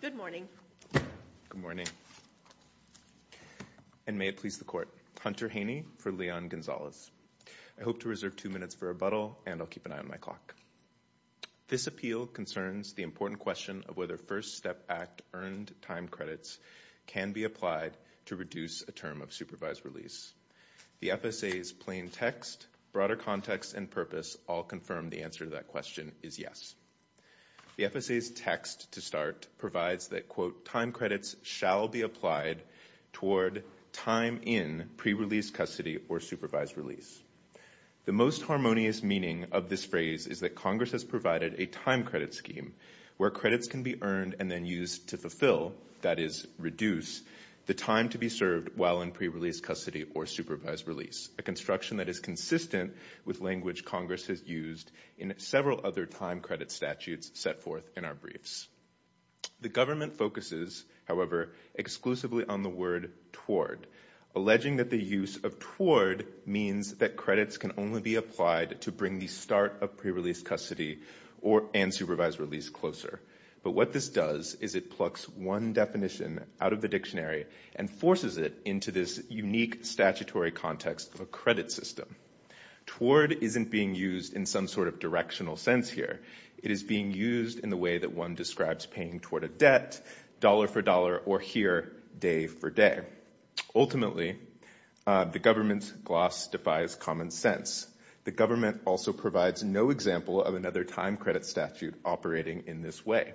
Good morning. Good morning. And may it please the court. Hunter Haney for Leon Gonzalez. I hope to reserve two minutes for rebuttal, and I'll keep an eye on my clock. This appeal concerns the important question of whether First Step Act earned time credits can be applied to reduce a term of supervised release. The FSA's plain text, broader context, and purpose all confirm the answer to that question is yes. The FSA's text, to start, provides that, quote, time credits shall be applied toward time in pre-release custody or supervised release. The most harmonious meaning of this phrase is that Congress has provided a time credit scheme where credits can be earned and then used to fulfill, that is, reduce, the time to be served while in pre-release custody or supervised release, a construction that is consistent with language Congress has used in several other time credit statutes set forth in our briefs. The government focuses, however, exclusively on the word toward, alleging that the use of toward means that credits can only be applied to bring the start of pre-release custody and supervised release closer. But what this does is it plucks one definition out of the dictionary and forces it into this unique statutory context of a credit system. Toward isn't being used in some sort of directional sense here. It is being used in the way that one describes paying toward a debt, dollar for dollar, or here, day for day. Ultimately, the government's gloss defies common sense. The government also provides no example of another time credit statute operating in this way.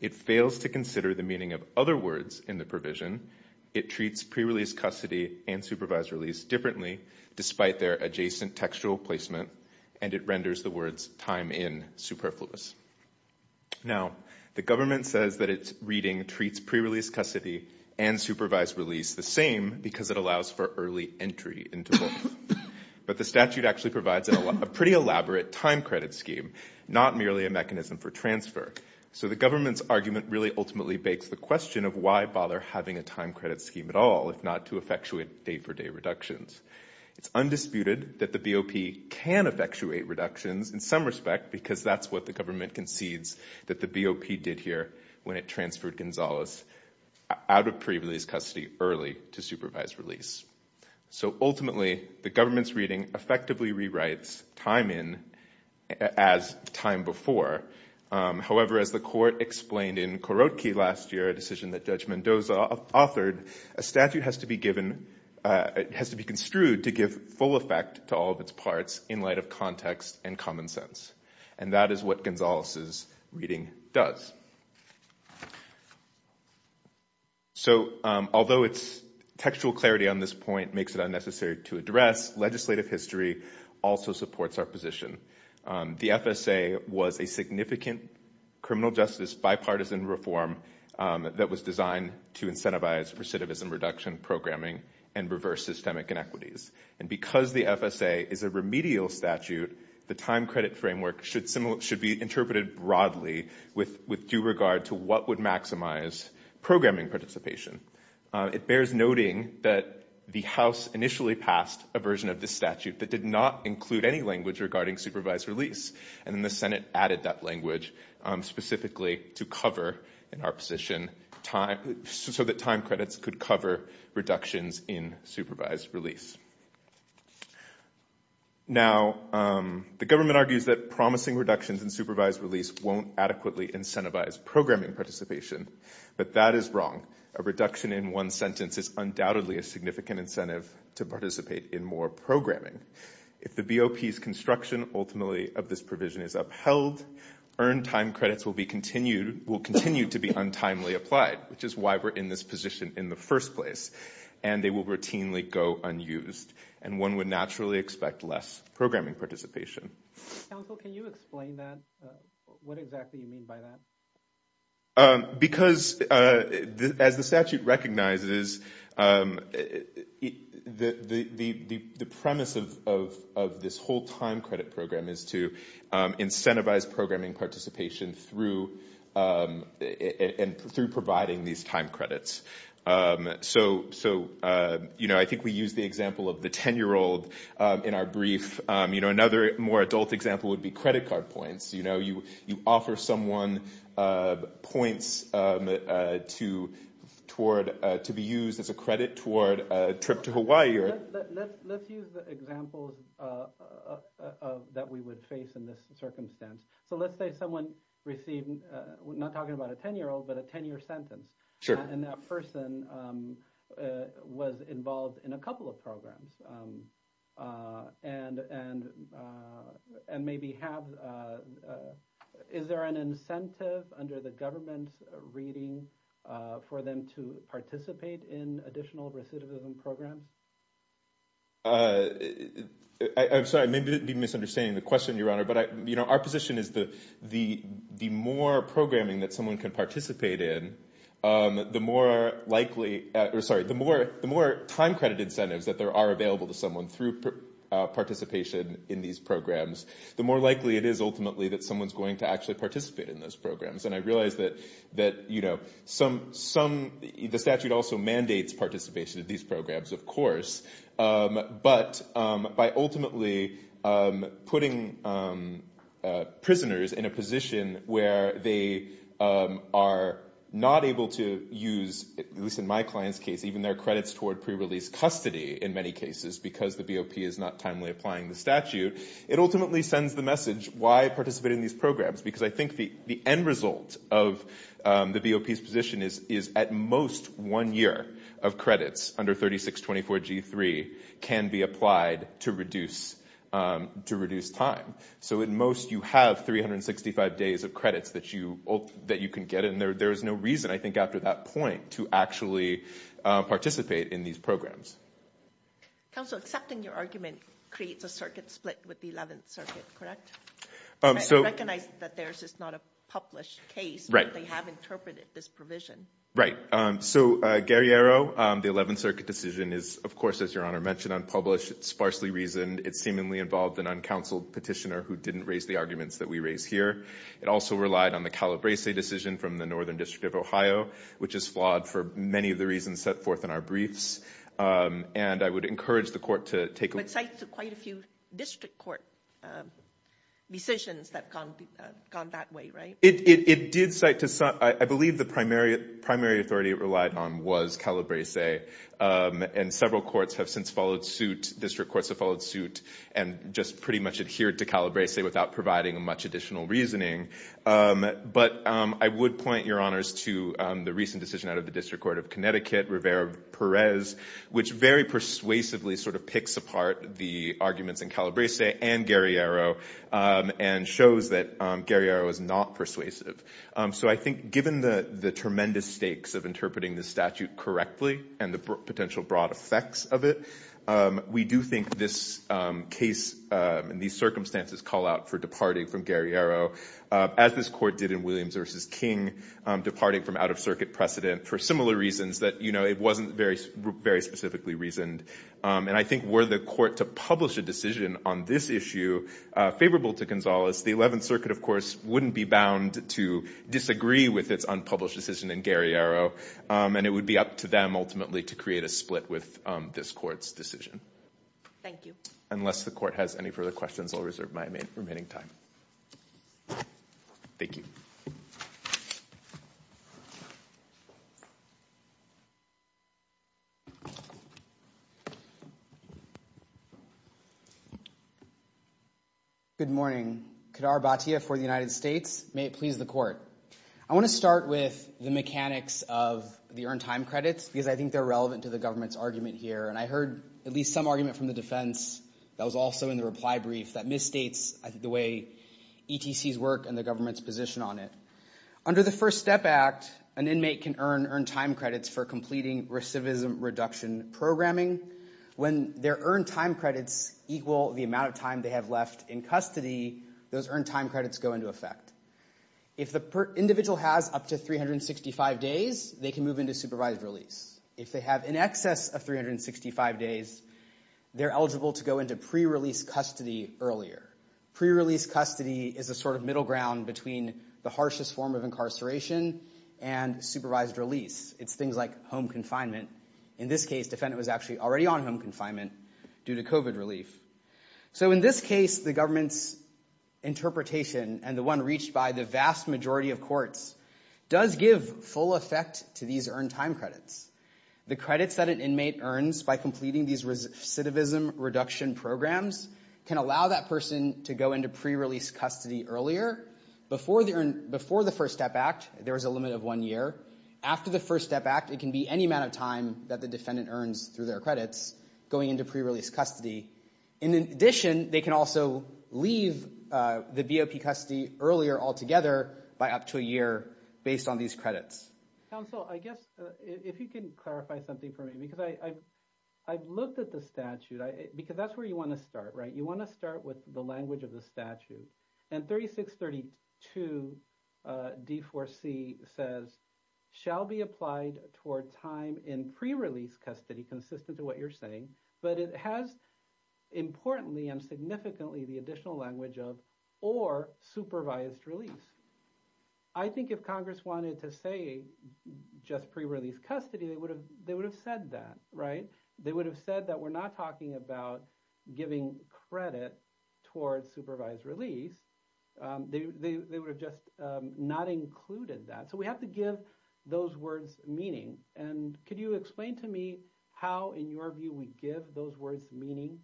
It fails to consider the meaning of other words in the provision. It treats pre-release custody and supervised release differently, despite their adjacent textual placement, and it renders the words time in superfluous. Now, the government says that its reading treats pre-release custody and supervised release the same because it allows for early entry into both. But the statute actually provides a pretty elaborate time credit scheme, not merely a mechanism for transfer. So the government's argument really ultimately begs the question of why bother having a time credit scheme at all if not to effectuate day for day reductions. It's undisputed that the BOP can effectuate reductions in some respect because that's what the government concedes that the BOP did here when it transferred Gonzalez out of pre-release custody early to supervised release. So ultimately, the government's reading effectively rewrites time in as time before. However, as the court explained in Korotke last year, a decision that Judge Mendoza authored, a statute has to be construed to give full effect to all of its parts in light of context and common sense. And that is what Gonzalez's reading does. So although its textual clarity on this point makes it unnecessary to address, legislative history also supports our position. The FSA was a significant criminal justice bipartisan reform that was designed to incentivize recidivism reduction programming and reverse systemic inequities. And because the FSA is a remedial statute, the time credit framework should be interpreted broadly with due regard to what would maximize programming participation. It bears noting that the House initially passed a version of this statute that did not include any language regarding supervised release. And then the Senate added that language specifically to cover in our position so that time credits could cover reductions in supervised release. Now the government argues that promising reductions in supervised release won't adequately incentivize programming participation. But that is wrong. A reduction in one sentence is undoubtedly a significant incentive to participate in more programming. If the BOP's construction ultimately of this provision is upheld, earned time credits will continue to be untimely applied, which is why we're in this position in the first place. And they will routinely go unused. And one would naturally expect less programming participation. Counsel, can you explain that? What exactly do you mean by that? Because, as the statute recognizes, the premise of this whole time credit program is to incentivize programming participation through providing these time credits. So I think we used the example of the 10-year-old in our brief. Another more adult example would be credit card points. You know, you offer someone points to be used as a credit toward a trip to Hawaii. Let's use the examples that we would face in this circumstance. So let's say someone received, we're not talking about a 10-year-old, but a 10-year sentence. And that person was involved in a couple of programs. And maybe have, is there an incentive under the government's reading for them to participate in additional recidivism programs? I'm sorry, maybe I'm misunderstanding the question, Your Honor. But our position is that the more programming that someone can participate in, the more likely, or sorry, the more time credit incentives that there are available to someone through participation in these programs, the more likely it is ultimately that someone's going to actually participate in those programs. And I realize that, you know, the statute also mandates participation in these programs, of course. But by ultimately putting prisoners in a position where they are not able to use, at least in my client's case, even their credits toward pre-release custody, in many cases, because the BOP is not timely applying the statute, it ultimately sends the message, why participate in these programs? Because I think the end result of the BOP's position is at most one year of credits under 3624 G3 can be applied to reduce time. So at most you have 365 days of credits that you can get. And there is no reason, I think, after that point to actually participate in these programs. Counsel, accepting your argument creates a circuit split with the 11th Circuit, correct? I recognize that theirs is not a published case, but they have interpreted this provision. Right. So Guerriero, the 11th Circuit decision is, of course, as Your Honor mentioned, unpublished. It's sparsely reasoned. It seemingly involved an uncounseled petitioner who didn't raise the arguments that we raise here. It also relied on the Calabrese decision from the Northern District of Ohio, which is flawed for many of the reasons set forth in our briefs. And I would encourage the court to take a look. District court decisions that have gone that way, right? I believe the primary authority it relied on was Calabrese. And several courts have since followed suit. District courts have followed suit and just pretty much adhered to Calabrese without providing much additional reasoning. But I would point, Your Honors, to the recent decision out of the District Court of Connecticut, Rivera-Perez, which very persuasively sort of picks apart the arguments in Calabrese and Guerriero, and shows that Guerriero is not persuasive. So I think given the tremendous stakes of interpreting the statute correctly and the potential broad effects of it, we do think this case and these circumstances call out for departing from Guerriero, as this court did in Williams v. King, departing from out-of-circuit precedent for similar reasons that it wasn't very specifically reasoned. And I think were the court to publish a decision on this issue favorable to Gonzalez, the Eleventh Circuit, of course, wouldn't be bound to disagree with its unpublished decision in Guerriero, and it would be up to them ultimately to create a split with this court's decision. Thank you. Unless the court has any further questions, I'll reserve my remaining time. Thank you. Good morning. Kedar Bhatia for the United States. May it please the court. I want to start with the mechanics of the earned time credits, because I think they're relevant to the government's argument here, and I heard at least some argument from the defense that was also in the reply brief that misstates the way ETCs work and the government's position on it. Under the First Step Act, an inmate can earn earned time credits for completing recidivism reduction programming. When their earned time credits equal the amount of time they have left in custody, those earned time credits go into effect. If the individual has up to 365 days, they can move into supervised release. If they have in excess of 365 days, they're eligible to go into pre-release custody earlier. Pre-release custody is a sort of middle ground between the harshest form of incarceration and supervised release. It's things like home confinement. In this case, defendant was actually already on home confinement due to COVID relief. So in this case, the government's interpretation and the one reached by the vast majority of courts does give full effect to these earned time credits. The credits that an inmate earns by completing these recidivism reduction programs can allow that person to go into pre-release custody earlier. Before the First Step Act, there was a limit of one year. After the First Step Act, it can be any amount of time that the defendant earns through their credits going into pre-release custody. In addition, they can also leave the BOP custody earlier altogether by up to a year based on these credits. Counsel, I guess if you can clarify something for me, because I've looked at the statute, because that's where you want to start, right? You want to start with the language of the statute. And 3632 D4C says, shall be applied toward time in pre-release custody consistent to what you're saying, but it has, importantly and significantly, the additional language of or supervised release. I think if Congress wanted to say just pre-release custody, they would have said that, right? They would have said that we're not talking about giving credit towards supervised release. They would have just not included that. So we have to give those words meaning. And could you explain to me how, in your view, we give those words meaning?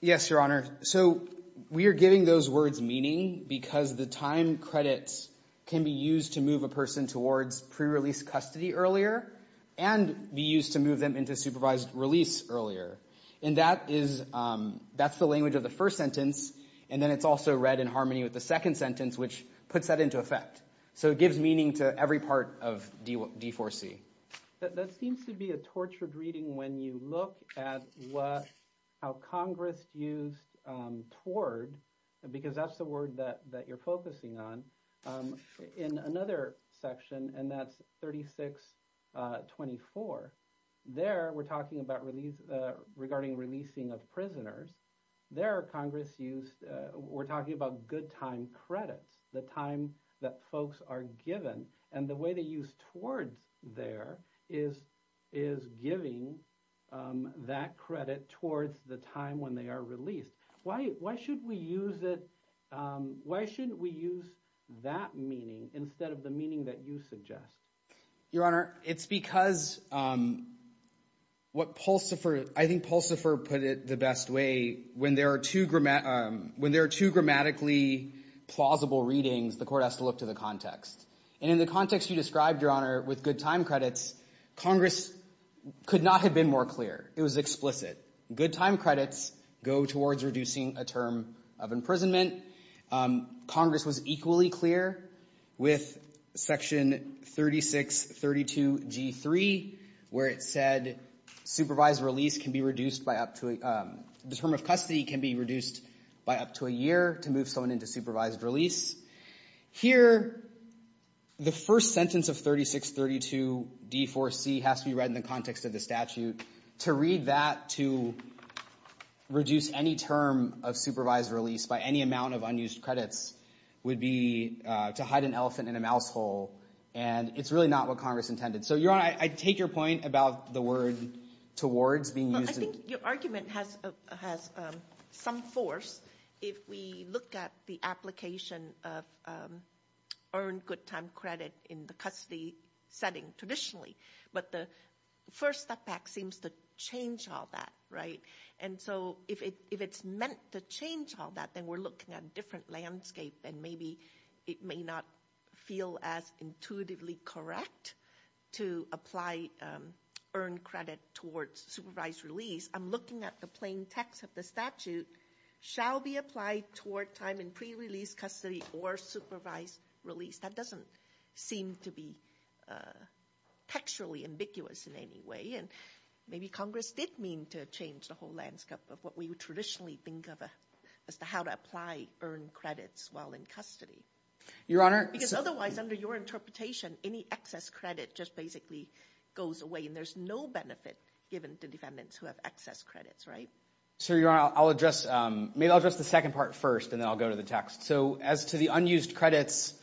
Yes, Your Honor. So we are giving those words meaning because the time credits can be used to move a person towards pre-release custody earlier and be used to move them into supervised release earlier. And that's the language of the first sentence, and then it's also read in harmony with the second sentence, which puts that into effect. So it gives meaning to every part of D4C. That seems to be a tortured reading when you look at how Congress used toward, because that's the word that you're focusing on, in another section, and that's 3624. There we're talking about regarding releasing of prisoners. There Congress used, we're talking about good time credits, the time that folks are given. And the way they use towards there is giving that credit towards the time when they are released. Why shouldn't we use that meaning instead of the meaning that you suggest? Your Honor, it's because what Pulsifer, I think Pulsifer put it the best way, when there are two grammatically plausible readings, the court has to look to the context. And in the context you described, Your Honor, with good time credits, Congress could not have been more clear. It was explicit. Good time credits go towards reducing a term of imprisonment. Congress was equally clear with Section 3632G3, where it said supervised release can be reduced by up to, the term of custody can be reduced by up to a year to move someone into supervised release. Here, the first sentence of 3632D4C has to be read in the context of the statute. To read that to reduce any term of supervised release by any amount of unused credits would be to hide an elephant in a mouse hole, and it's really not what Congress intended. So, Your Honor, I take your point about the word towards being used. I think your argument has some force if we look at the application of earned good time credit in the custody setting traditionally. But the first step back seems to change all that, right? And so if it's meant to change all that, then we're looking at a different landscape and maybe it may not feel as intuitively correct to apply earned credit towards supervised release. I'm looking at the plain text of the statute, shall be applied toward time in pre-release custody or supervised release. That doesn't seem to be textually ambiguous in any way, and maybe Congress did mean to change the whole landscape of what we would traditionally think of as to how to apply earned credits while in custody. Because otherwise, under your interpretation, any excess credit just basically goes away and there's no benefit given to defendants who have excess credits, right? So, Your Honor, I'll address the second part first and then I'll go to the text. So as to the unused credits,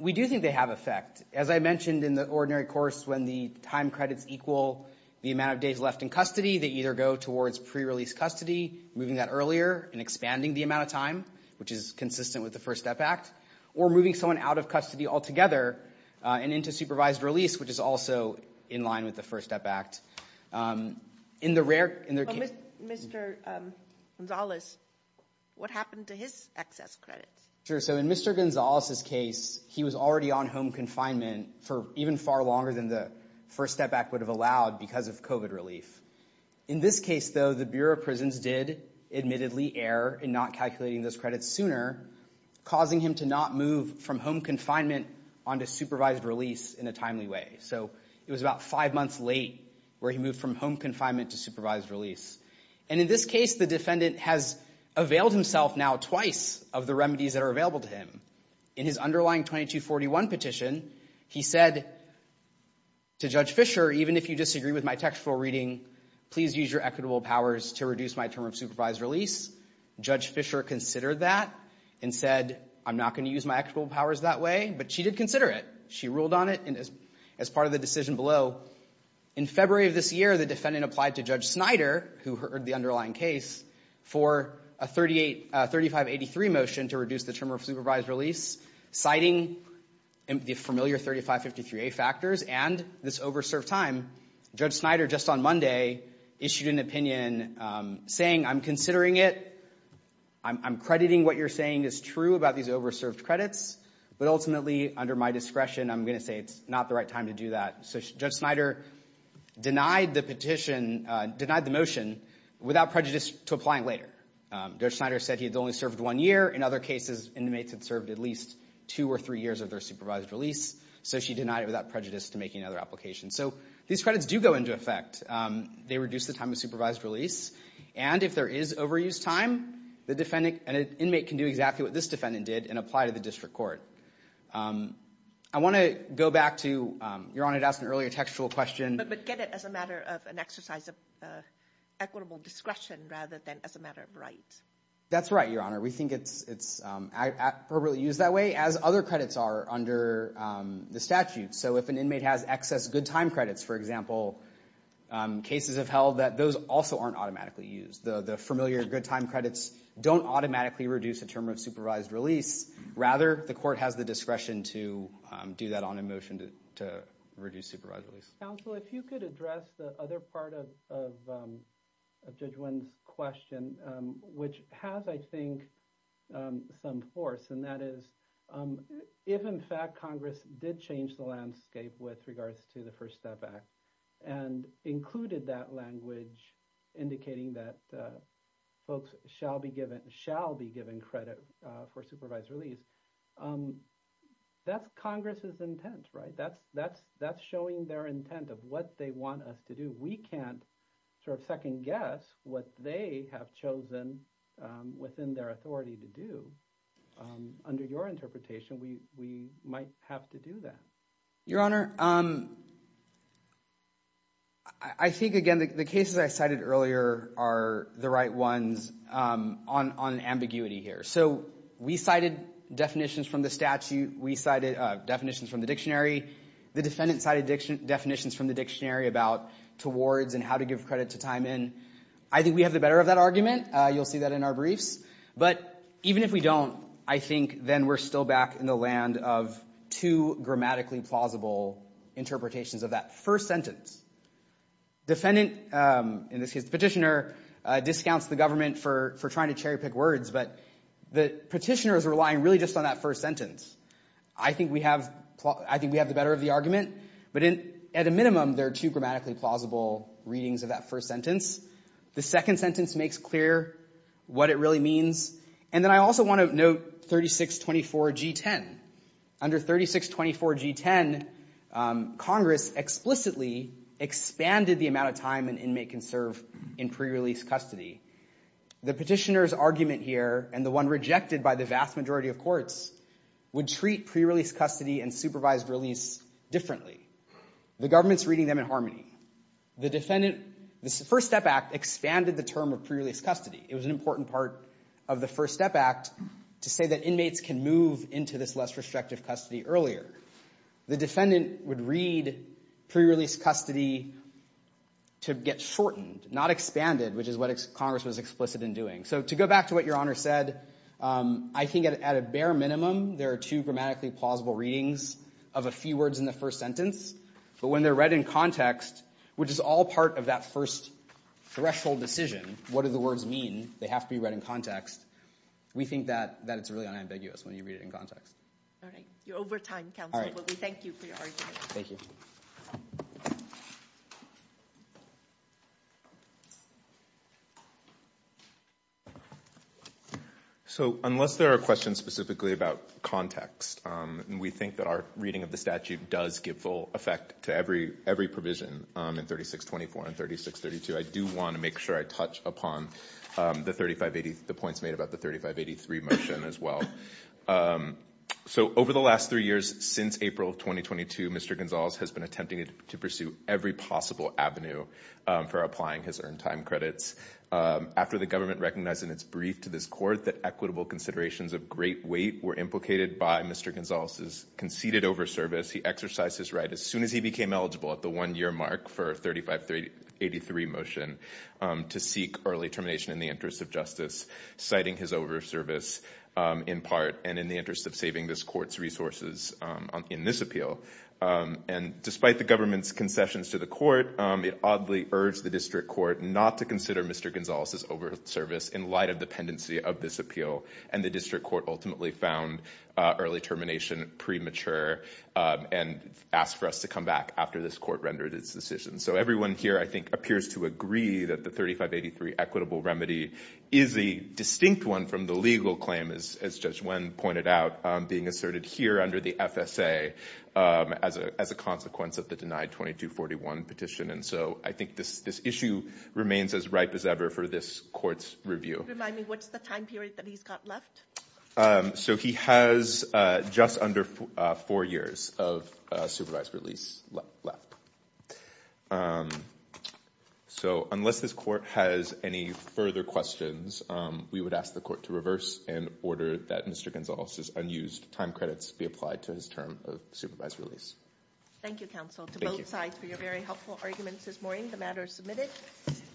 we do think they have effect. As I mentioned in the ordinary course, when the time credits equal the amount of days left in custody, they either go towards pre-release custody, moving that earlier and expanding the amount of time, which is consistent with the First Step Act, or moving someone out of custody altogether and into supervised release, which is also in line with the First Step Act. In the rare— Mr. Gonzales, what happened to his excess credits? Sure. So in Mr. Gonzales's case, he was already on home confinement for even far longer than the First Step Act would have allowed because of COVID relief. In this case, though, the Bureau of Prisons did admittedly err in not calculating those credits sooner, causing him to not move from home confinement onto supervised release in a timely way. So it was about five months late where he moved from home confinement to supervised release. And in this case, the defendant has availed himself now twice of the remedies that are available to him. In his underlying 2241 petition, he said to Judge Fischer, even if you disagree with my textual reading, please use your equitable powers to reduce my term of supervised release. Judge Fischer considered that and said, I'm not going to use my equitable powers that way. But she did consider it. She ruled on it as part of the decision below. In February of this year, the defendant applied to Judge Snyder, who heard the underlying case, for a 3583 motion to reduce the term of supervised release. Citing the familiar 3553A factors and this over-served time, Judge Snyder just on Monday issued an opinion saying, I'm considering it. I'm crediting what you're saying is true about these over-served credits. But ultimately, under my discretion, I'm going to say it's not the right time to do that. So Judge Snyder denied the petition, denied the motion without prejudice to applying later. Judge Snyder said he had only served one year. In other cases, inmates had served at least two or three years of their supervised release. So she denied it without prejudice to making another application. So these credits do go into effect. They reduce the time of supervised release. And if there is overused time, an inmate can do exactly what this defendant did and apply to the district court. I want to go back to, Your Honor, to ask an earlier textual question. But get it as a matter of an exercise of equitable discretion rather than as a matter of right. That's right, Your Honor. We think it's appropriately used that way, as other credits are under the statute. So if an inmate has excess good time credits, for example, cases have held that those also aren't automatically used. The familiar good time credits don't automatically reduce the term of supervised release. Rather, the court has the discretion to do that on a motion to reduce supervised release. Counsel, if you could address the other part of Judge Wynn's question, which has, I think, some force. And that is, if in fact Congress did change the landscape with regards to the First Step Act and included that language indicating that folks shall be given credit for supervised release, that's Congress's intent, right? That's showing their intent of what they want us to do. We can't sort of second guess what they have chosen within their authority to do. Under your interpretation, we might have to do that. Your Honor, I think, again, the cases I cited earlier are the right ones on ambiguity here. So we cited definitions from the statute. We cited definitions from the dictionary. The defendant cited definitions from the dictionary about towards and how to give credit to time in. I think we have the better of that argument. You'll see that in our briefs. But even if we don't, I think then we're still back in the land of two grammatically plausible interpretations of that first sentence. Defendant, in this case the petitioner, discounts the government for trying to cherry pick words. But the petitioner is relying really just on that first sentence. I think we have the better of the argument. But at a minimum, there are two grammatically plausible readings of that first sentence. The second sentence makes clear what it really means. And then I also want to note 3624G10. Under 3624G10, Congress explicitly expanded the amount of time an inmate can serve in pre-release custody. The petitioner's argument here and the one rejected by the vast majority of courts would treat pre-release custody and supervised release differently. The government's reading them in harmony. The First Step Act expanded the term of pre-release custody. It was an important part of the First Step Act to say that inmates can move into this less restrictive custody earlier. The defendant would read pre-release custody to get shortened, not expanded, which is what Congress was explicit in doing. So to go back to what Your Honor said, I think at a bare minimum, there are two grammatically plausible readings of a few words in the first sentence. But when they're read in context, which is all part of that first threshold decision, what do the words mean? They have to be read in context. We think that it's really unambiguous when you read it in context. All right. You're over time, Counsel. Thank you for your argument. Thank you. Thank you. So unless there are questions specifically about context, we think that our reading of the statute does give full effect to every provision in 3624 and 3632. I do want to make sure I touch upon the points made about the 3583 motion as well. So over the last three years, since April of 2022, Mr. Gonzales has been attempting to pursue every possible avenue for applying his earned time credits. After the government recognized in its brief to this court that equitable considerations of great weight were implicated by Mr. Gonzales' conceded overservice, he exercised his right as soon as he became eligible at the one-year mark for 3583 motion to seek early termination in the interest of justice, citing his over service in part and in the interest of saving this court's resources in this appeal. And despite the government's concessions to the court, it oddly urged the district court not to consider Mr. Gonzales' over service in light of dependency of this appeal. And the district court ultimately found early termination premature and asked for us to come back after this court rendered its decision. So everyone here, I think, appears to agree that the 3583 equitable remedy is a distinct one from the legal claim, as Judge Wen pointed out, being asserted here under the FSA as a consequence of the denied 2241 petition. And so I think this issue remains as ripe as ever for this court's review. Remind me, what's the time period that he's got left? So he has just under four years of supervised release left. So unless this court has any further questions, we would ask the court to reverse and order that Mr. Gonzales' unused time credits be applied to his term of supervised release. Thank you, counsel, to both sides for your very helpful arguments this morning. The matter is submitted.